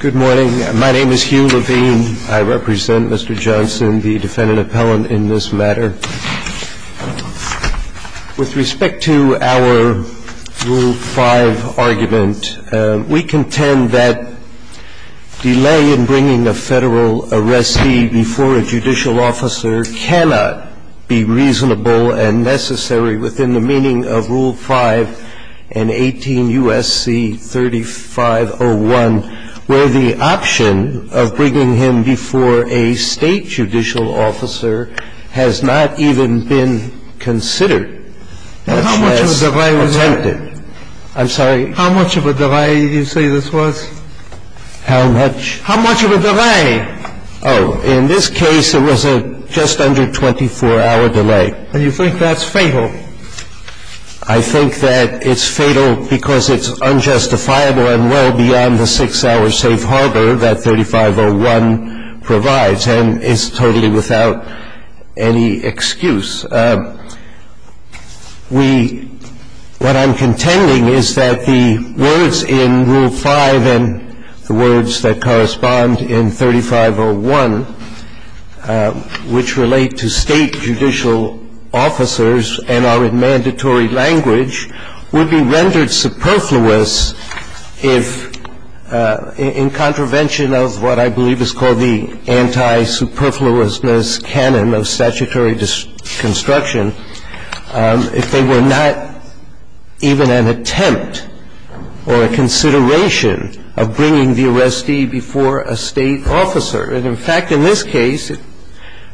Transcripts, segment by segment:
Good morning. My name is Hugh Levine. I represent Mr. Johnson, the defendant appellant in this matter. With respect to our Rule 5 argument, we contend that delay in bringing a federal arrestee before a judicial officer cannot be reasonable and necessary within the meaning of Rule 5 and 18 U.S.C. 3501. Where the option of bringing him before a state judicial officer has not even been considered unless attempted. How much of a delay was that? I'm sorry? How much of a delay do you say this was? How much? How much of a delay? Oh, in this case, it was a just under 24-hour delay. And you think that's fatal? I think that it's fatal because it's unjustifiable and well beyond the 6-hour safe harbor that 3501 provides. And it's totally without any excuse. We – what I'm contending is that the words in Rule 5 and the words that correspond in 3501, which relate to state judicial officers and are in mandatory language, would be rendered superfluous if, in contravention of what I believe is called the anti-superfluousness canon of statutory construction, if they were not even an attempt or a consideration of bringing the arrestee before a state officer. And in fact, in this case,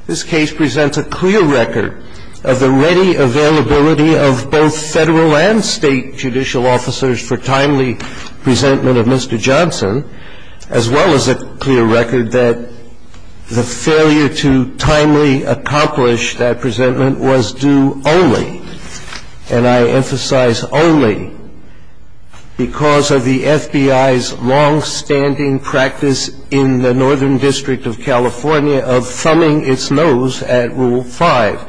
this case presents a clear record of the ready availability of both federal and state judicial officers for timely presentment of Mr. Johnson, as well as a clear record that the failure to timely accomplish that presentment was due only, and I emphasize only, because of the FBI's longstanding practice in the Northern District of California of thumbing its nose at Rule 5.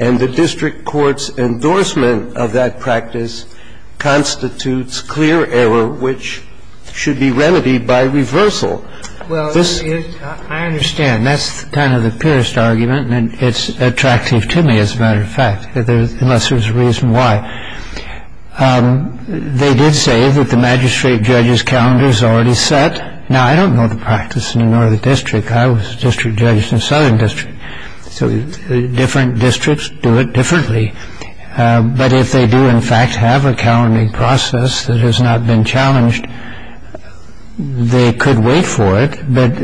And the district court's endorsement of that practice constitutes clear error, which should be remedied by reversal. Well, I understand. That's kind of the purest argument, and it's attractive to me, as a matter of fact, unless there's a reason why. They did say that the magistrate judge's calendar is already set. Now, I don't know the practice in the Northern District. I was a district judge in the Southern District. So different districts do it differently. But if they do, in fact, have a calendar process that has not been challenged, they could wait for it. But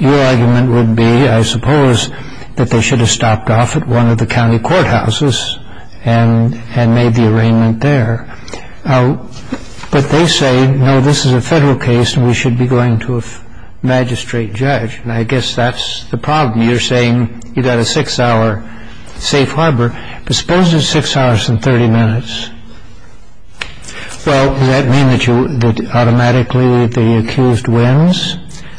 your argument would be, I suppose, that they should have stopped off at one of the county courthouses and made the arraignment there. But they say, no, this is a federal case, and we should be going to a magistrate judge. And I guess that's the problem. And you're saying you've got a six-hour safe harbor. But suppose it's six hours and 30 minutes. Well, does that mean that automatically the accused wins?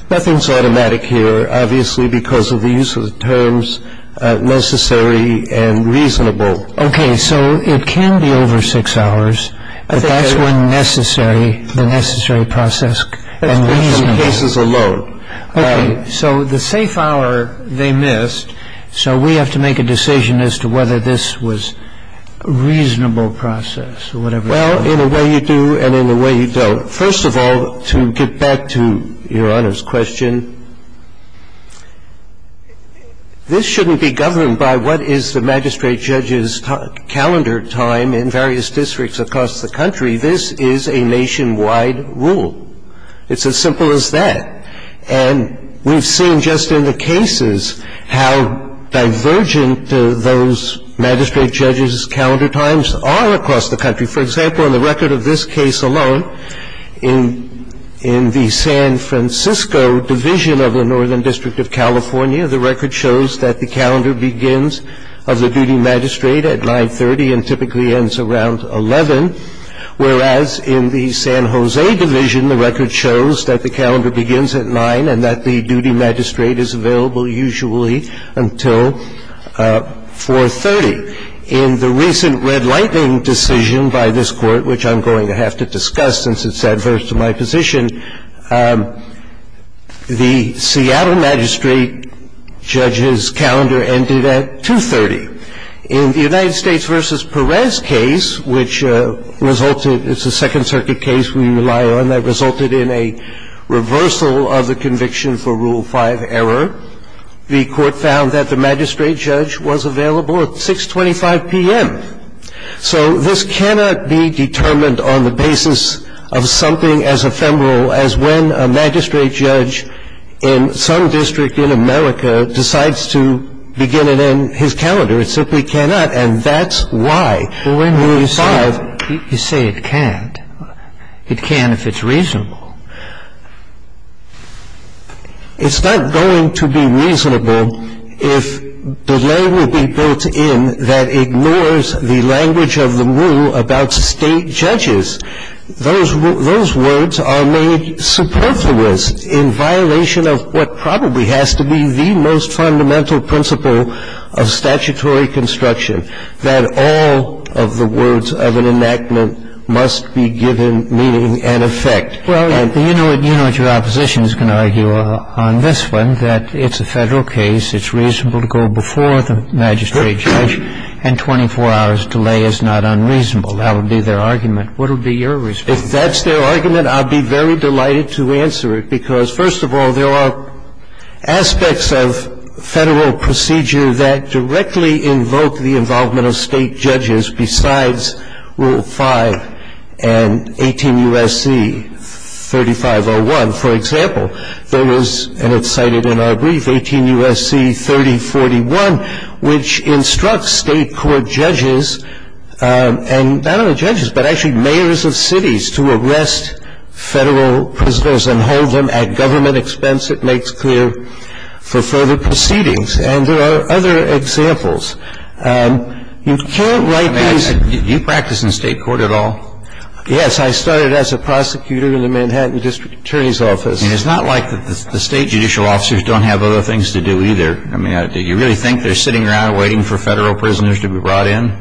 Nothing's automatic here, obviously, because of the use of the terms necessary and reasonable. OK, so it can be over six hours, but that's when necessary, the necessary process and reasonable. In some cases alone. OK, so the safe hour they missed, so we have to make a decision as to whether this was a reasonable process or whatever. Well, in a way you do and in a way you don't. First of all, to get back to Your Honor's question, this shouldn't be governed by what is the magistrate judge's calendar time in various districts across the country. This is a nationwide rule. It's as simple as that. And we've seen just in the cases how divergent those magistrate judges' calendar times are across the country. For example, in the record of this case alone, in the San Francisco division of the Northern District of California, the record shows that the calendar begins of the duty magistrate at 930 and typically ends around 11, whereas in the San Jose division, the record shows that the calendar begins at 9 and that the duty magistrate is available usually until 430. In the recent Red Lightning decision by this Court, which I'm going to have to discuss since it's adverse to my position, the Seattle magistrate judge's calendar ended at 230. In the United States v. Perez case, which resulted, it's a Second Circuit case we rely on, that resulted in a reversal of the conviction for Rule 5 error, the Court found that the magistrate judge was available at 625 p.m. So this cannot be determined on the basis of something as ephemeral as when a magistrate judge in some district in America decides to begin and end his calendar. It simply cannot. And that's why Rule 5. You say it can't. It can if it's reasonable. It's not going to be reasonable if delay would be built in that ignores the language of the rule about State judges. Those words are made superfluous in violation of what probably has to be the most fundamental principle of statutory construction, that all of the words of an enactment must be given meaning and effect. Well, you know what your opposition is going to argue on this one, that it's a Federal case, it's reasonable to go before the magistrate judge, and 24 hours delay is not unreasonable. That would be their argument. What would be your response? If that's their argument, I'd be very delighted to answer it, because, first of all, there are aspects of Federal procedure that directly invoke the involvement of State judges besides Rule 5 and 18 U.S.C. 3501. For example, there was, and it's cited in our brief, 18 U.S.C. 3041, which instructs State court judges, and not only judges, but actually mayors of cities, to arrest Federal prisoners and hold them at government expense, it makes clear, for further proceedings. And there are other examples. You can't write these as you practice in State court at all. Yes. I started as a prosecutor in the Manhattan district attorney's office. And it's not like the State judicial officers don't have other things to do either. I mean, do you really think they're sitting around waiting for Federal prisoners to be brought in?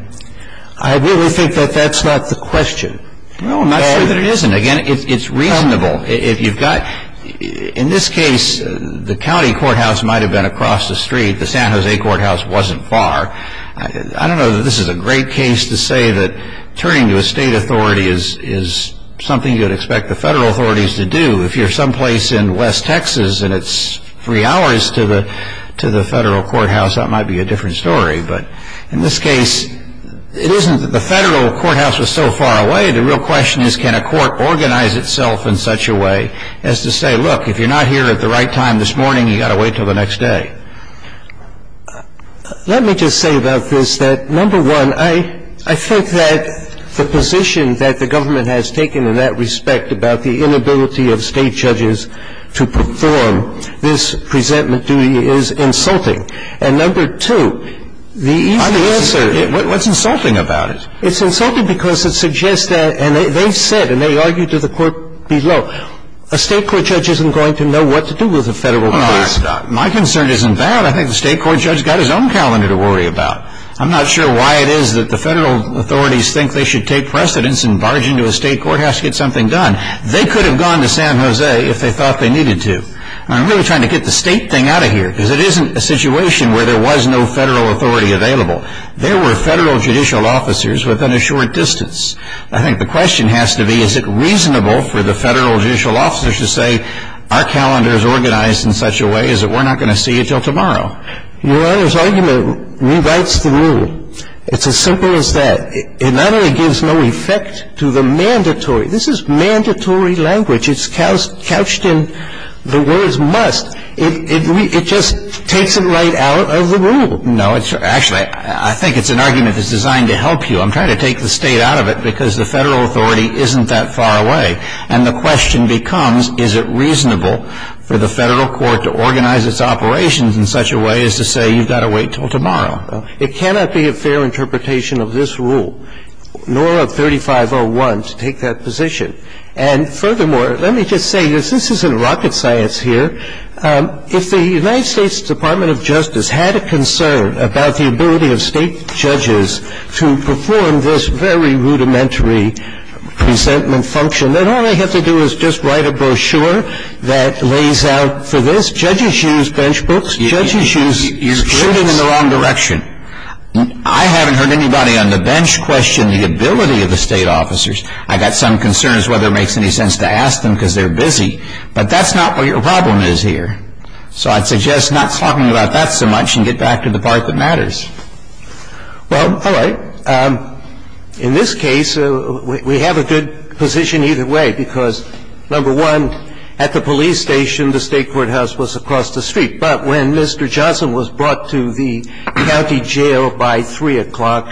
I really think that that's not the question. No, I'm not sure that it isn't. Again, it's reasonable. If you've got, in this case, the county courthouse might have been across the street. The San Jose courthouse wasn't far. I don't know that this is a great case to say that turning to a State authority is something you'd expect the Federal authorities to do. If you're someplace in West Texas and it's three hours to the Federal courthouse, that might be a different story. But in this case, it isn't that the Federal courthouse was so far away. The real question is, can a court organize itself in such a way as to say, look, if you're not here at the right time this morning, you've got to wait until the next day? Let me just say about this that, number one, I think that the position that the government has taken in that respect about the inability of State judges to perform this presentment duty is insulting. And, number two, the easy answer is... What's insulting about it? It's insulting because it suggests that, and they've said, and they argued to the court below, a State court judge isn't going to know what to do with a Federal case. My concern isn't that. I think the State court judge has got his own calendar to worry about. I'm not sure why it is that the Federal authorities think they should take precedence and barge into a State courthouse to get something done. They could have gone to San Jose if they thought they needed to. I'm really trying to get the State thing out of here because it isn't a situation where there was no Federal authority available. There were Federal judicial officers within a short distance. I think the question has to be, is it reasonable for the Federal judicial officers to say, our calendar is organized in such a way as that we're not going to see it until tomorrow? Your Honor's argument rewrites the rule. It's as simple as that. It not only gives no effect to the mandatory, this is mandatory language. It's couched in the words must. It just takes it right out of the rule. No. Actually, I think it's an argument that's designed to help you. I'm trying to take the State out of it because the Federal authority isn't that far away. And the question becomes, is it reasonable for the Federal court to organize its operations in such a way as to say you've got to wait until tomorrow? It cannot be a fair interpretation of this rule, nor of 3501, to take that position. And furthermore, let me just say this. This isn't rocket science here. If the United States Department of Justice had a concern about the ability of State judges to perform this very rudimentary presentment function, then all they have to do is just write a brochure that lays out for this. Judges use bench books. Judges use grids. You're shooting in the wrong direction. I haven't heard anybody on the bench question the ability of the State officers. I've got some concerns whether it makes any sense to ask them because they're busy. But that's not what your problem is here. So I'd suggest not talking about that so much and get back to the part that matters. Well, all right. In this case, we have a good position either way because, number one, at the police station the State courthouse was across the street. But when Mr. Johnson was brought to the county jail by 3 o'clock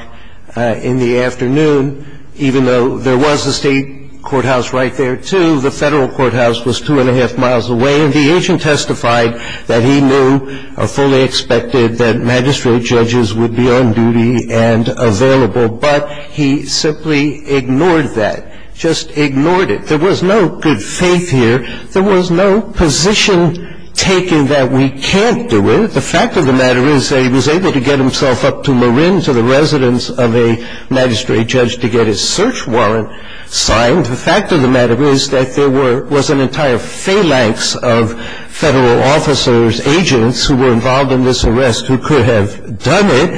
in the afternoon, even though there was a State courthouse right there, too, the Federal courthouse was 2 1⁄2 miles away, and the agent testified that he knew or fully expected that magistrate judges would be on duty and available. But he simply ignored that, just ignored it. There was no good faith here. There was no position taken that we can't do it. The fact of the matter is that he was able to get himself up to Marin, to the residence of a magistrate judge, to get his search warrant signed. The fact of the matter is that there was an entire phalanx of Federal officers, agents who were involved in this arrest who could have done it.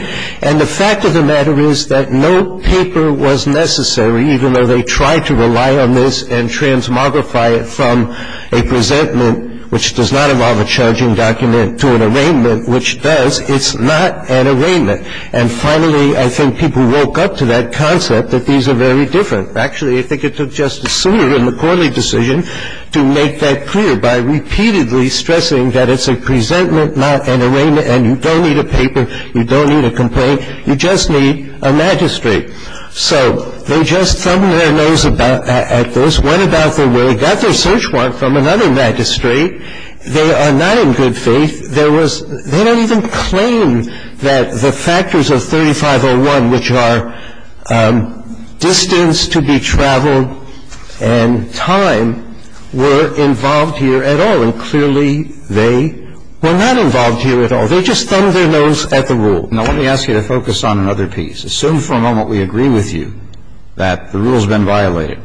And the fact of the matter is that no paper was necessary, even though they tried to rely on this and transmogrify it from a presentment, which does not involve a charging document, to an arraignment, which does. It's not an arraignment. And finally, I think people woke up to that concept that these are very different. Actually, I think it took Justice Souter in the Corley decision to make that clear by repeatedly stressing that it's a presentment, not an arraignment, and you don't need a paper, you don't need a complaint, you just need a magistrate. So they just somewhere nose about at this, went about their way, got their search warrant from another magistrate. They are not in good faith. There was they don't even claim that the factors of 3501, which are distance to be traveled and time, were involved here at all. And clearly, they were not involved here at all. They just thumbed their nose at the rule. Now, let me ask you to focus on another piece. Assume for a moment we agree with you that the rule has been violated.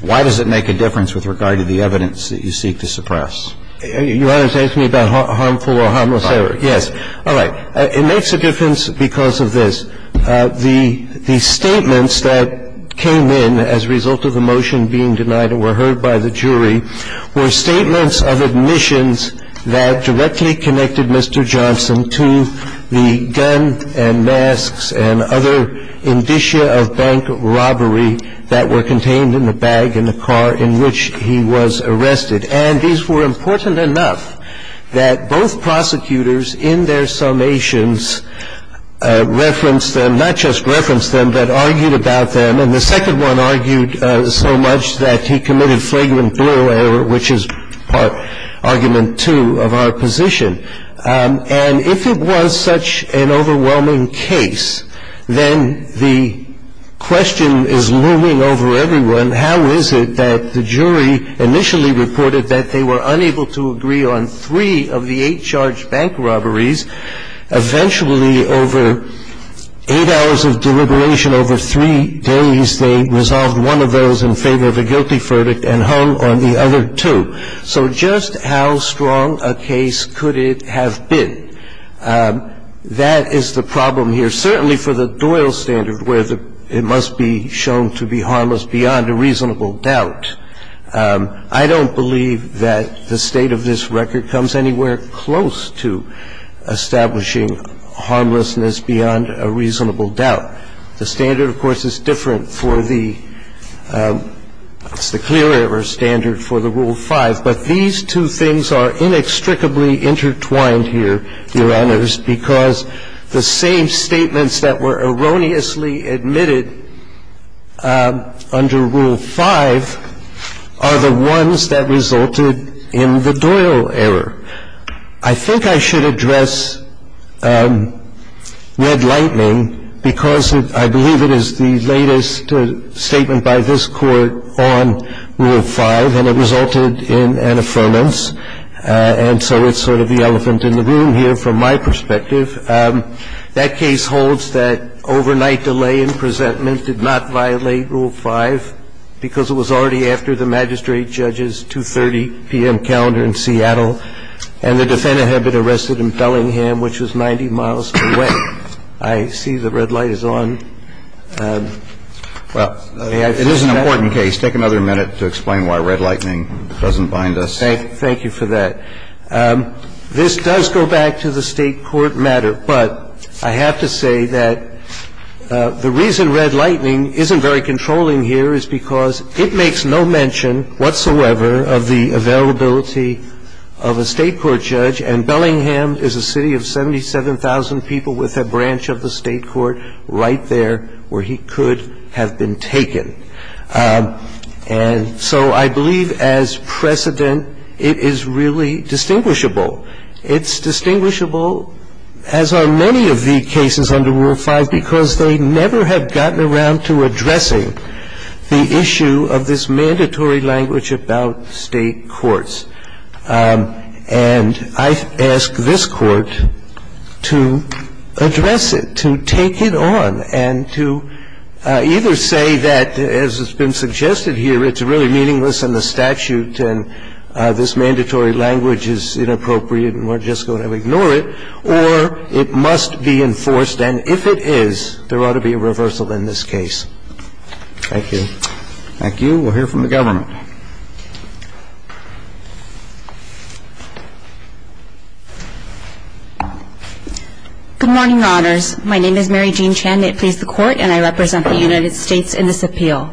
Why does it make a difference with regard to the evidence that you seek to suppress? Your Honor is asking me about harmful or harmless error. Yes. All right. It makes a difference because of this. The statements that came in as a result of the motion being denied and were heard by the jury were statements of admissions that directly connected Mr. Johnson to the gun and masks and other indicia of bank robbery that were contained in the bag in the car in which he was arrested. And these were important enough that both prosecutors in their summations referenced them, not just referenced them, but argued about them. And the second one argued so much that he committed flagrant blue error, which is part argument two of our position. And if it was such an overwhelming case, then the question is looming over everyone. How is it that the jury initially reported that they were unable to agree on three of the eight charged bank robberies? Eventually, over eight hours of deliberation, over three days, they resolved one of those in favor of a guilty verdict and hung on the other two. So just how strong a case could it have been? That is the problem here, certainly for the Doyle standard where it must be shown to be harmless beyond a reasonable doubt. I don't believe that the state of this record comes anywhere close to establishing harmlessness beyond a reasonable doubt. The standard, of course, is different for the – it's the clear error standard for the Rule 5. But these two things are inextricably intertwined here, Your Honors, because the same statements that were erroneously admitted under Rule 5 are the ones that resulted in the Doyle error. I think I should address Red Lightning because I believe it is the latest statement by this Court on Rule 5, and it resulted in an affirmance. And so it's sort of the elephant in the room here from my perspective. That case holds that overnight delay in presentment did not violate Rule 5 because it was already after the magistrate judge's 2.30 p.m. calendar in Seattle, and the defendant had been arrested in Bellingham, which was 90 miles away. I see the red light is on. Well, it is an important case. Take another minute to explain why Red Lightning doesn't bind us. Thank you for that. This does go back to the State court matter, but I have to say that the reason Red makes no mention whatsoever of the availability of a State court judge, and Bellingham is a city of 77,000 people with a branch of the State court right there where he could have been taken. And so I believe as precedent it is really distinguishable. It's distinguishable, as are many of the cases under Rule 5, because they never have gotten around to addressing the issue of this mandatory language about State courts. And I've asked this Court to address it, to take it on, and to either say that, as has been suggested here, it's really meaningless in the statute and this mandatory language is inappropriate and we're just going to ignore it, or it must be enforced and if it is, there ought to be a reversal in this case. Thank you. Thank you. We'll hear from the government. Good morning, Your Honors. My name is Mary Jean Chan. I please the Court and I represent the United States in this appeal.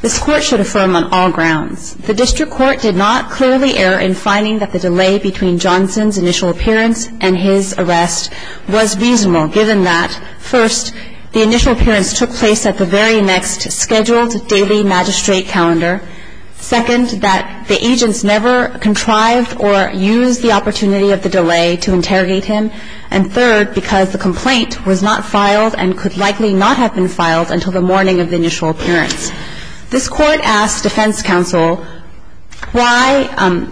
This Court should affirm on all grounds the District Court did not clearly err in finding that the delay between Johnson's initial appearance and his arrest was reasonable given that, first, the initial appearance took place at the very next scheduled daily magistrate calendar, second, that the agents never contrived or used the opportunity of the delay to interrogate him, and third, because the complaint was not filed and could likely not have been filed until the morning of the initial appearance. This Court asked defense counsel why,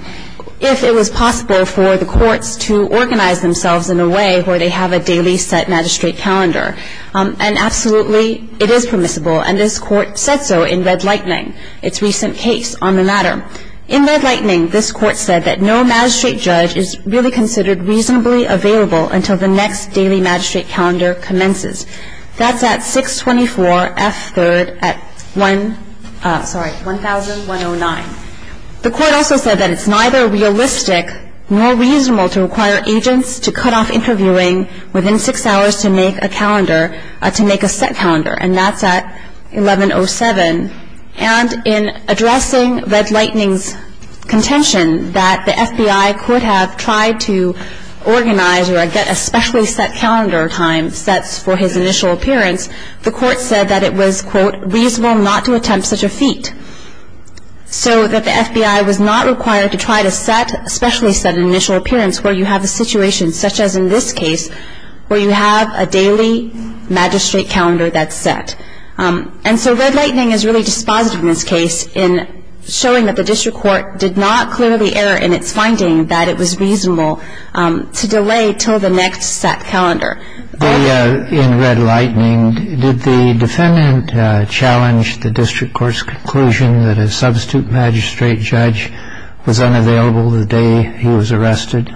if it was possible for the courts to organize themselves in a way where they have a daily set magistrate calendar, and absolutely it is permissible, and this Court said so in Red Lightning, its recent case on the matter. In Red Lightning, this Court said that no magistrate judge is really considered reasonably available until the next daily magistrate calendar commences. That's at 624 F. 3rd at 1, sorry, 1,109. The Court also said that it's neither realistic nor reasonable to require agents to cut off interviewing within six hours to make a calendar, to make a set calendar, and that's at 1107. And in addressing Red Lightning's contention that the FBI could have tried to organize or get a specially set calendar time sets for his initial appearance, the Court said that it was, quote, reasonable not to attempt such a feat, so that the FBI was not required to try to set a specially set initial appearance where you have a situation, such as in this case, where you have a daily magistrate calendar that's set. And so Red Lightning is really dispositive in this case in showing that the district court did not clearly err in its finding that it was reasonable to delay until the next set calendar. In Red Lightning, did the defendant challenge the district court's conclusion that a substitute magistrate judge was unavailable the day he was arrested?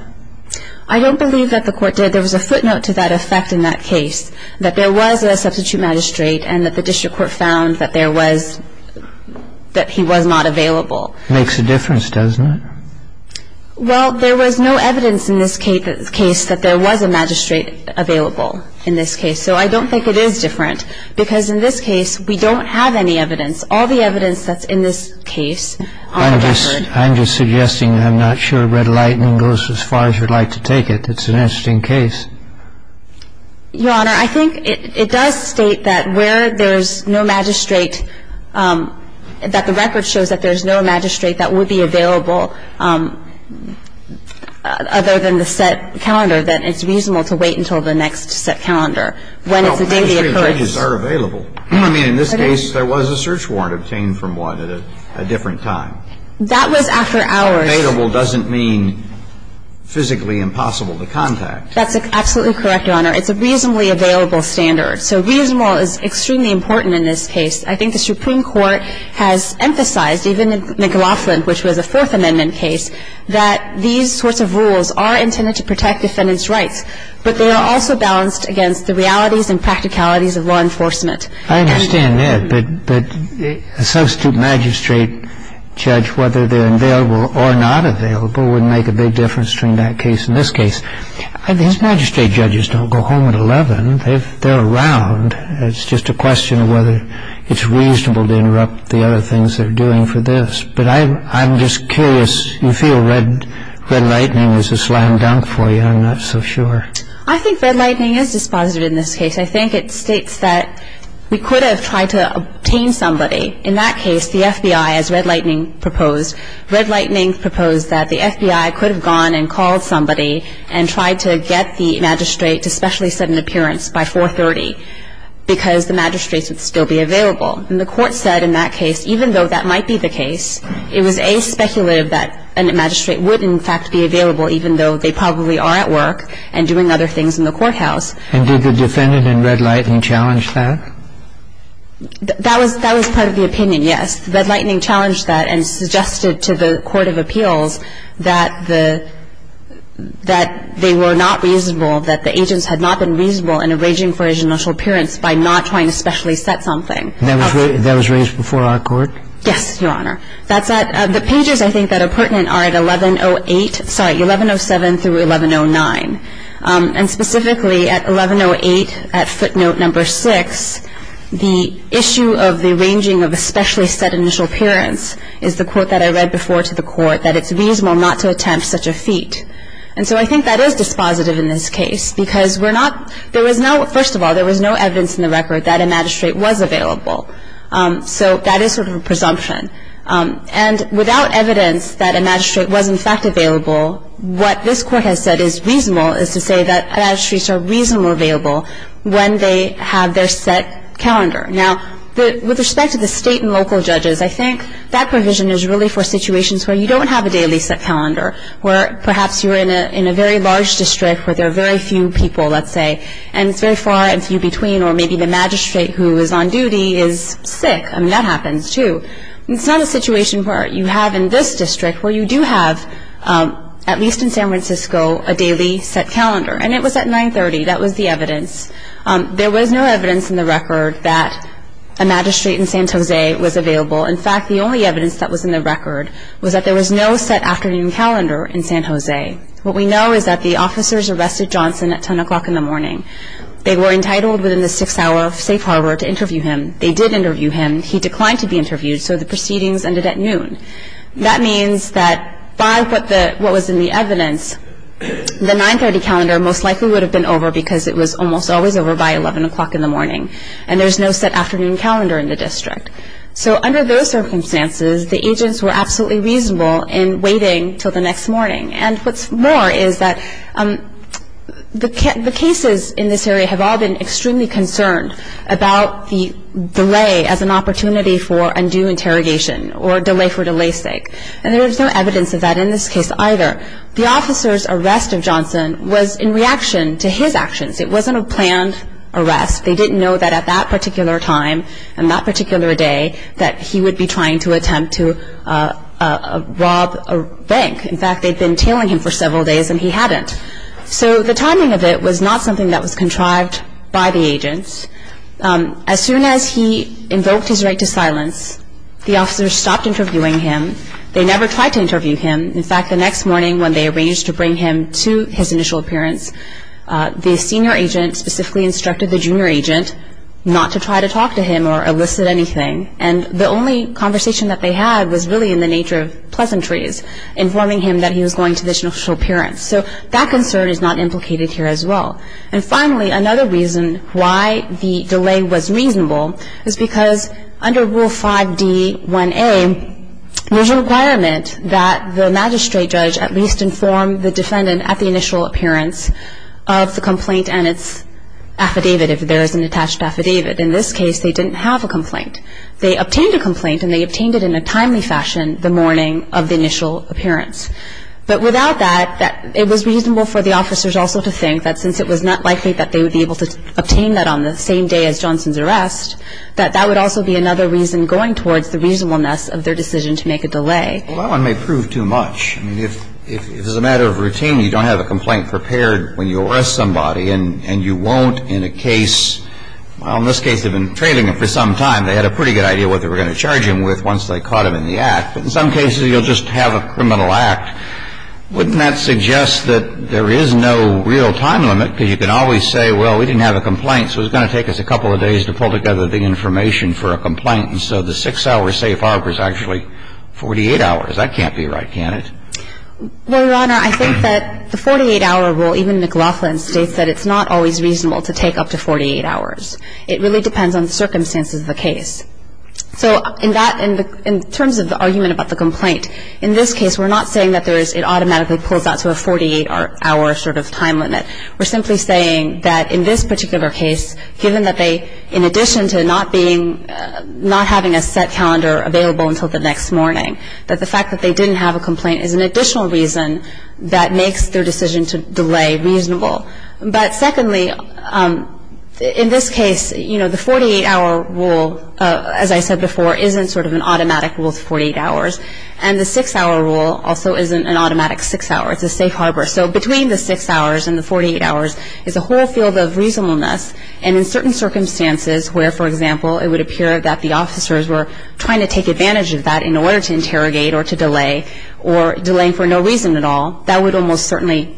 I don't believe that the court did. There was a footnote to that effect in that case, that there was a substitute magistrate and that the district court found that there was, that he was not available. Makes a difference, doesn't it? Well, there was no evidence in this case that there was a magistrate available in this case. So I don't think it is different, because in this case, we don't have any evidence. All the evidence that's in this case on the record... I'm just suggesting that I'm not sure Red Lightning goes as far as you'd like to take it. It's an interesting case. Your Honor, I think it does state that where there's no magistrate, that the record shows that there's no magistrate that would be available other than the set calendar, that it's reasonable to wait until the next set calendar. Well, magistrate judges are available. I mean, in this case, there was a search warrant obtained from one at a different time. That was after hours. Available doesn't mean physically impossible to contact. That's absolutely correct, Your Honor. It's a reasonably available standard. So reasonable is extremely important in this case. I think the Supreme Court has emphasized, even in McLaughlin, which was a Fourth Amendment case, that these sorts of rules are intended to protect defendants' rights, but they are also balanced against the realities and practicalities of law enforcement. I understand that, but a substitute magistrate judge, whether they're available or not available, wouldn't make a big difference between that case and this case. These magistrate judges don't go home at 11. They're around. It's just a question of whether it's reasonable to interrupt the other things they're doing for this. But I'm just curious. You feel Red Lightning is a slam dunk for you. I'm not so sure. I think Red Lightning is dispositive in this case. I think it states that we could have tried to obtain somebody. In that case, the FBI, as Red Lightning proposed, Red Lightning proposed that the FBI could have gone and called somebody and tried to get the magistrate to specially set an appearance by 4.30 because the magistrates would still be available. And the Court said in that case, even though that might be the case, it was a speculative that a magistrate would, in fact, be available, even though they probably are at work and doing other things in the courthouse. And did the defendant in Red Lightning challenge that? That was part of the opinion, yes. Red Lightning challenged that and suggested to the Court of Appeals that they were not reasonable, that the agents had not been reasonable in arranging for his initial appearance by not trying to specially set something. That was raised before our Court? Yes, Your Honor. The pages, I think, that are pertinent are at 1107 through 1109. And specifically at 1108, at footnote number six, the issue of the arranging of a specially set initial appearance is the quote that I read before to the Court, that it's reasonable not to attempt such a feat. And so I think that is dispositive in this case because we're not, there was no, first of all, there was no evidence in the record that a magistrate was available. So that is sort of a presumption. And without evidence that a magistrate was, in fact, available, what this Court has said is reasonable is to say that magistrates are reasonably available when they have their set calendar. Now, with respect to the state and local judges, I think that provision is really for situations where you don't have a daily set calendar, where perhaps you're in a very large district where there are very few people, let's say, and it's very far and few between, or maybe the magistrate who is on duty is sick. I mean, that happens, too. It's not a situation where you have in this district where you do have, at least in San Francisco, a daily set calendar. And it was at 930. That was the evidence. There was no evidence in the record that a magistrate in San Jose was available. In fact, the only evidence that was in the record was that there was no set afternoon calendar in San Jose. What we know is that the officers arrested Johnson at 10 o'clock in the morning. They were entitled within the six-hour safe harbor to interview him. They did interview him. He declined to be interviewed, so the proceedings ended at noon. That means that by what was in the evidence, the 930 calendar most likely would have been over because it was almost always over by 11 o'clock in the morning, and there's no set afternoon calendar in the district. So under those circumstances, the agents were absolutely reasonable in waiting until the next morning. And what's more is that the cases in this area have all been extremely concerned about the delay as an opportunity for undue interrogation or delay for delay's sake. And there is no evidence of that in this case either. The officer's arrest of Johnson was in reaction to his actions. It wasn't a planned arrest. They didn't know that at that particular time and that particular day that he would be trying to attempt to rob a bank. In fact, they'd been tailing him for several days and he hadn't. So the timing of it was not something that was contrived by the agents. As soon as he invoked his right to silence, the officers stopped interviewing him. They never tried to interview him. In fact, the next morning when they arranged to bring him to his initial appearance, the senior agent specifically instructed the junior agent not to try to talk to him or elicit anything. And the only conversation that they had was really in the nature of pleasantries, informing him that he was going to this initial appearance. So that concern is not implicated here as well. And finally, another reason why the delay was reasonable is because under Rule 5D1A, there's a requirement that the magistrate judge at least inform the defendant at the initial appearance of the complaint and its affidavit, if there is an attached affidavit. In this case, they didn't have a complaint. They obtained a complaint and they obtained it in a timely fashion the morning of the initial appearance. But without that, it was reasonable for the officers also to think that since it was not likely that they would be able to obtain that on the same day as Johnson's arrest, that that would also be another reason going towards the reasonableness of their decision to make a delay. Well, that one may prove too much. I mean, if as a matter of routine you don't have a complaint prepared when you arrest somebody and you won't in a case, well, in this case they've been trailing him for some time. They had a pretty good idea what they were going to charge him with once they caught him in the act. But in some cases, you'll just have a criminal act. Wouldn't that suggest that there is no real time limit? Because you can always say, well, we didn't have a complaint, so it's going to take us a couple of days to pull together the information for a complaint. And so the 6-hour safe harbor is actually 48 hours. That can't be right, can it? Well, Your Honor, I think that the 48-hour rule, even McLaughlin's, states that it's not always reasonable to take up to 48 hours. It really depends on the circumstances of the case. So in that, in terms of the argument about the complaint, in this case we're not saying that it automatically pulls out to a 48-hour sort of time limit. We're simply saying that in this particular case, given that they, in addition to not being, not having a set calendar available until the next morning, that the fact that they didn't have a complaint is an additional reason that makes their decision to delay reasonable. But secondly, in this case, you know, the 48-hour rule, as I said before, isn't sort of an automatic rule of 48 hours. And the 6-hour rule also isn't an automatic 6-hour. It's a safe harbor. So between the 6 hours and the 48 hours is a whole field of reasonableness. And in certain circumstances where, for example, it would appear that the officers were trying to take advantage of that in order to interrogate or to delay, or delaying for no reason at all, that would almost certainly,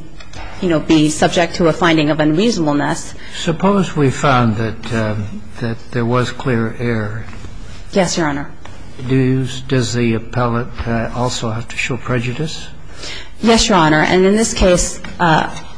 you know, be subject to a finding of unreasonableness. Suppose we found that there was clear error. Yes, Your Honor. Does the appellate also have to show prejudice? Yes, Your Honor. And in this case,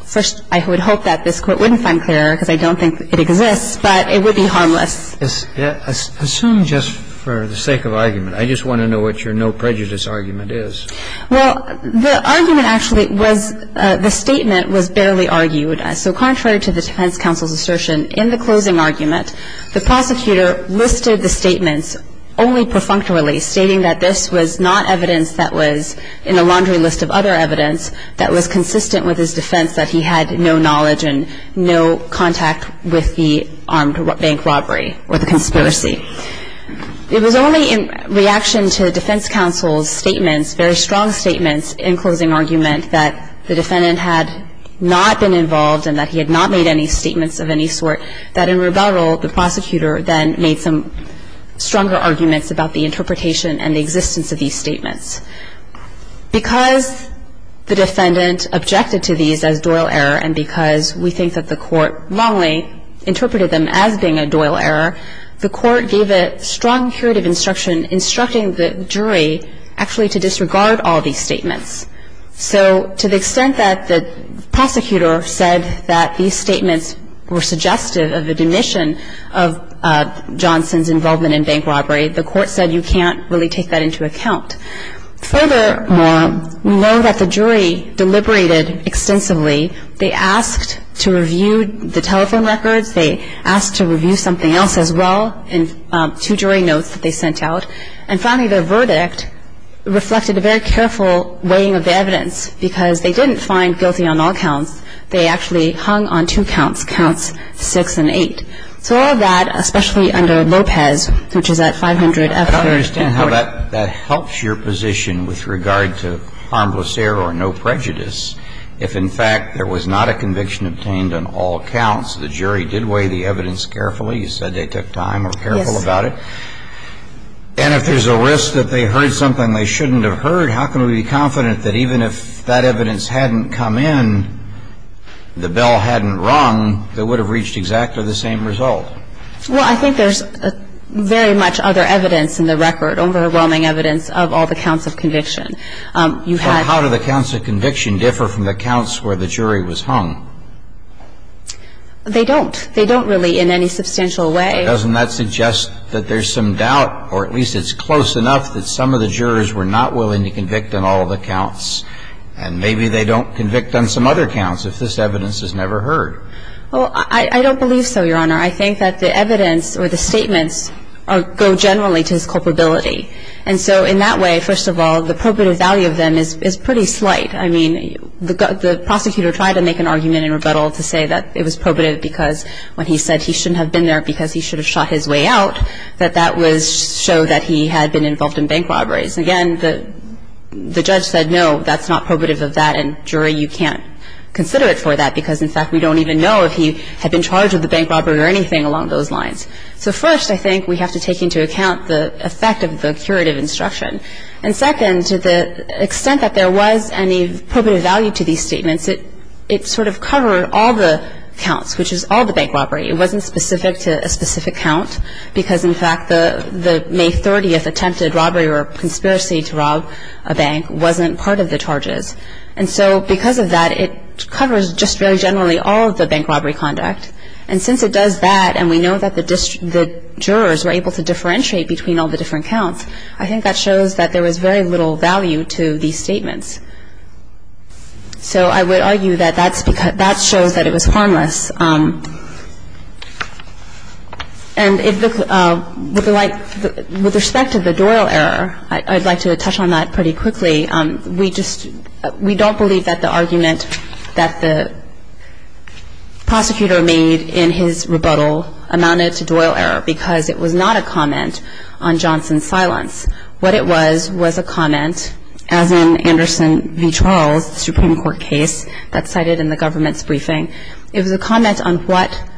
first, I would hope that this Court wouldn't find clear error, because I don't think it exists, but it would be harmless. Assume just for the sake of argument. I just want to know what your no prejudice argument is. Well, the argument actually was the statement was barely argued. So contrary to the defense counsel's assertion, in the closing argument, the prosecutor listed the statements only perfunctorily, stating that this was not evidence that was in a laundry list of other evidence that was consistent with his defense that he had no knowledge and no contact with the armed bank robbery or the conspiracy. It was only in reaction to defense counsel's statements, very strong statements in closing argument, that the defendant had not been involved and that he had not made any statements of any sort, that in rebuttal, the prosecutor then made some stronger arguments about the interpretation and the existence of these statements. Because the defendant objected to these as doyle error, and because we think that the Court wrongly interpreted them as being a doyle error, the Court gave a strong curative instruction, instructing the jury actually to disregard all these statements. So to the extent that the prosecutor said that these statements were suggestive of the demission of Johnson's involvement in bank robbery, the Court said you can't really take that into account. Furthermore, we know that the jury deliberated extensively. They asked to review the telephone records. They asked to review something else as well in two jury notes that they sent out. And finally, their verdict reflected a very careful weighing of the evidence because they didn't find guilty on all counts. They actually hung on two counts, counts 6 and 8. So all of that, especially under Lopez, which is at 500 F3rd and 4th. I don't understand how that helps your position with regard to harmless error or no prejudice if, in fact, there was not a conviction obtained on all counts. The jury did weigh the evidence carefully. You said they took time and were careful about it. Yes. And if there's a risk that they heard something they shouldn't have heard, how can we be confident that even if that evidence hadn't come in, the bell hadn't rung, they would have reached exactly the same result? Well, I think there's very much other evidence in the record, overwhelming evidence of all the counts of conviction. Well, how do the counts of conviction differ from the counts where the jury was hung? They don't. They don't really in any substantial way. Doesn't that suggest that there's some doubt, or at least it's close enough, that some of the jurors were not willing to convict on all of the counts, and maybe they don't convict on some other counts if this evidence is never heard? Well, I don't believe so, Your Honor. I think that the evidence or the statements go generally to his culpability. And so in that way, first of all, the probative value of them is pretty slight. I mean, the prosecutor tried to make an argument in rebuttal to say that it was probative because when he said he shouldn't have been there because he should have shot his way out, that that was to show that he had been involved in bank robberies. Again, the judge said, no, that's not probative of that, and, jury, you can't consider it for that because, in fact, we don't even know if he had been charged with a bank robbery or anything along those lines. So first, I think we have to take into account the effect of the curative instruction. And second, to the extent that there was any probative value to these statements, it sort of covered all the counts, which is all the bank robbery. It wasn't specific to a specific count because, in fact, the May 30th attempted robbery or conspiracy to rob a bank wasn't part of the charges. And so because of that, it covers just very generally all of the bank robbery conduct. And since it does that and we know that the jurors were able to differentiate between all the different counts, I think that shows that there was very little value to these statements. So I would argue that that shows that it was harmless. And with respect to the Doyle error, I'd like to touch on that pretty quickly. We don't believe that the argument that the prosecutor made in his rebuttal amounted to Doyle error because it was not a comment on Johnson's silence. What it was was a comment, as in Anderson v. Charles, the Supreme Court case that's cited in the government's briefing. It was a comment on what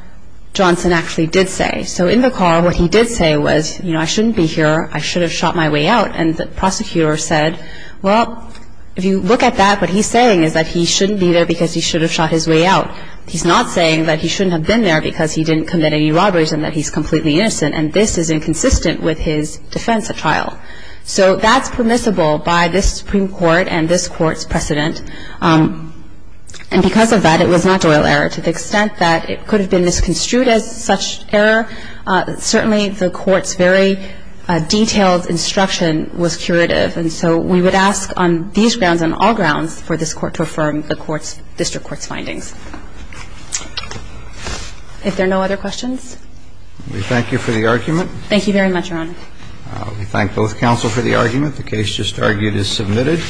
Johnson actually did say. So in the car, what he did say was, you know, I shouldn't be here. I should have shot my way out. And the prosecutor said, well, if you look at that, what he's saying is that he shouldn't be there because he should have shot his way out. He's not saying that he shouldn't have been there because he didn't commit any robberies and that he's completely innocent. And this is inconsistent with his defense at trial. So that's permissible by this Supreme Court and this Court's precedent. And because of that, it was not Doyle error to the extent that it could have been misconstrued as such error. Certainly the Court's very detailed instruction was curative. And so we would ask on these grounds, on all grounds, for this Court to affirm the District Court's findings. If there are no other questions? We thank you for the argument. Thank you very much, Your Honor. We thank both counsel for the argument. The case just argued is submitted.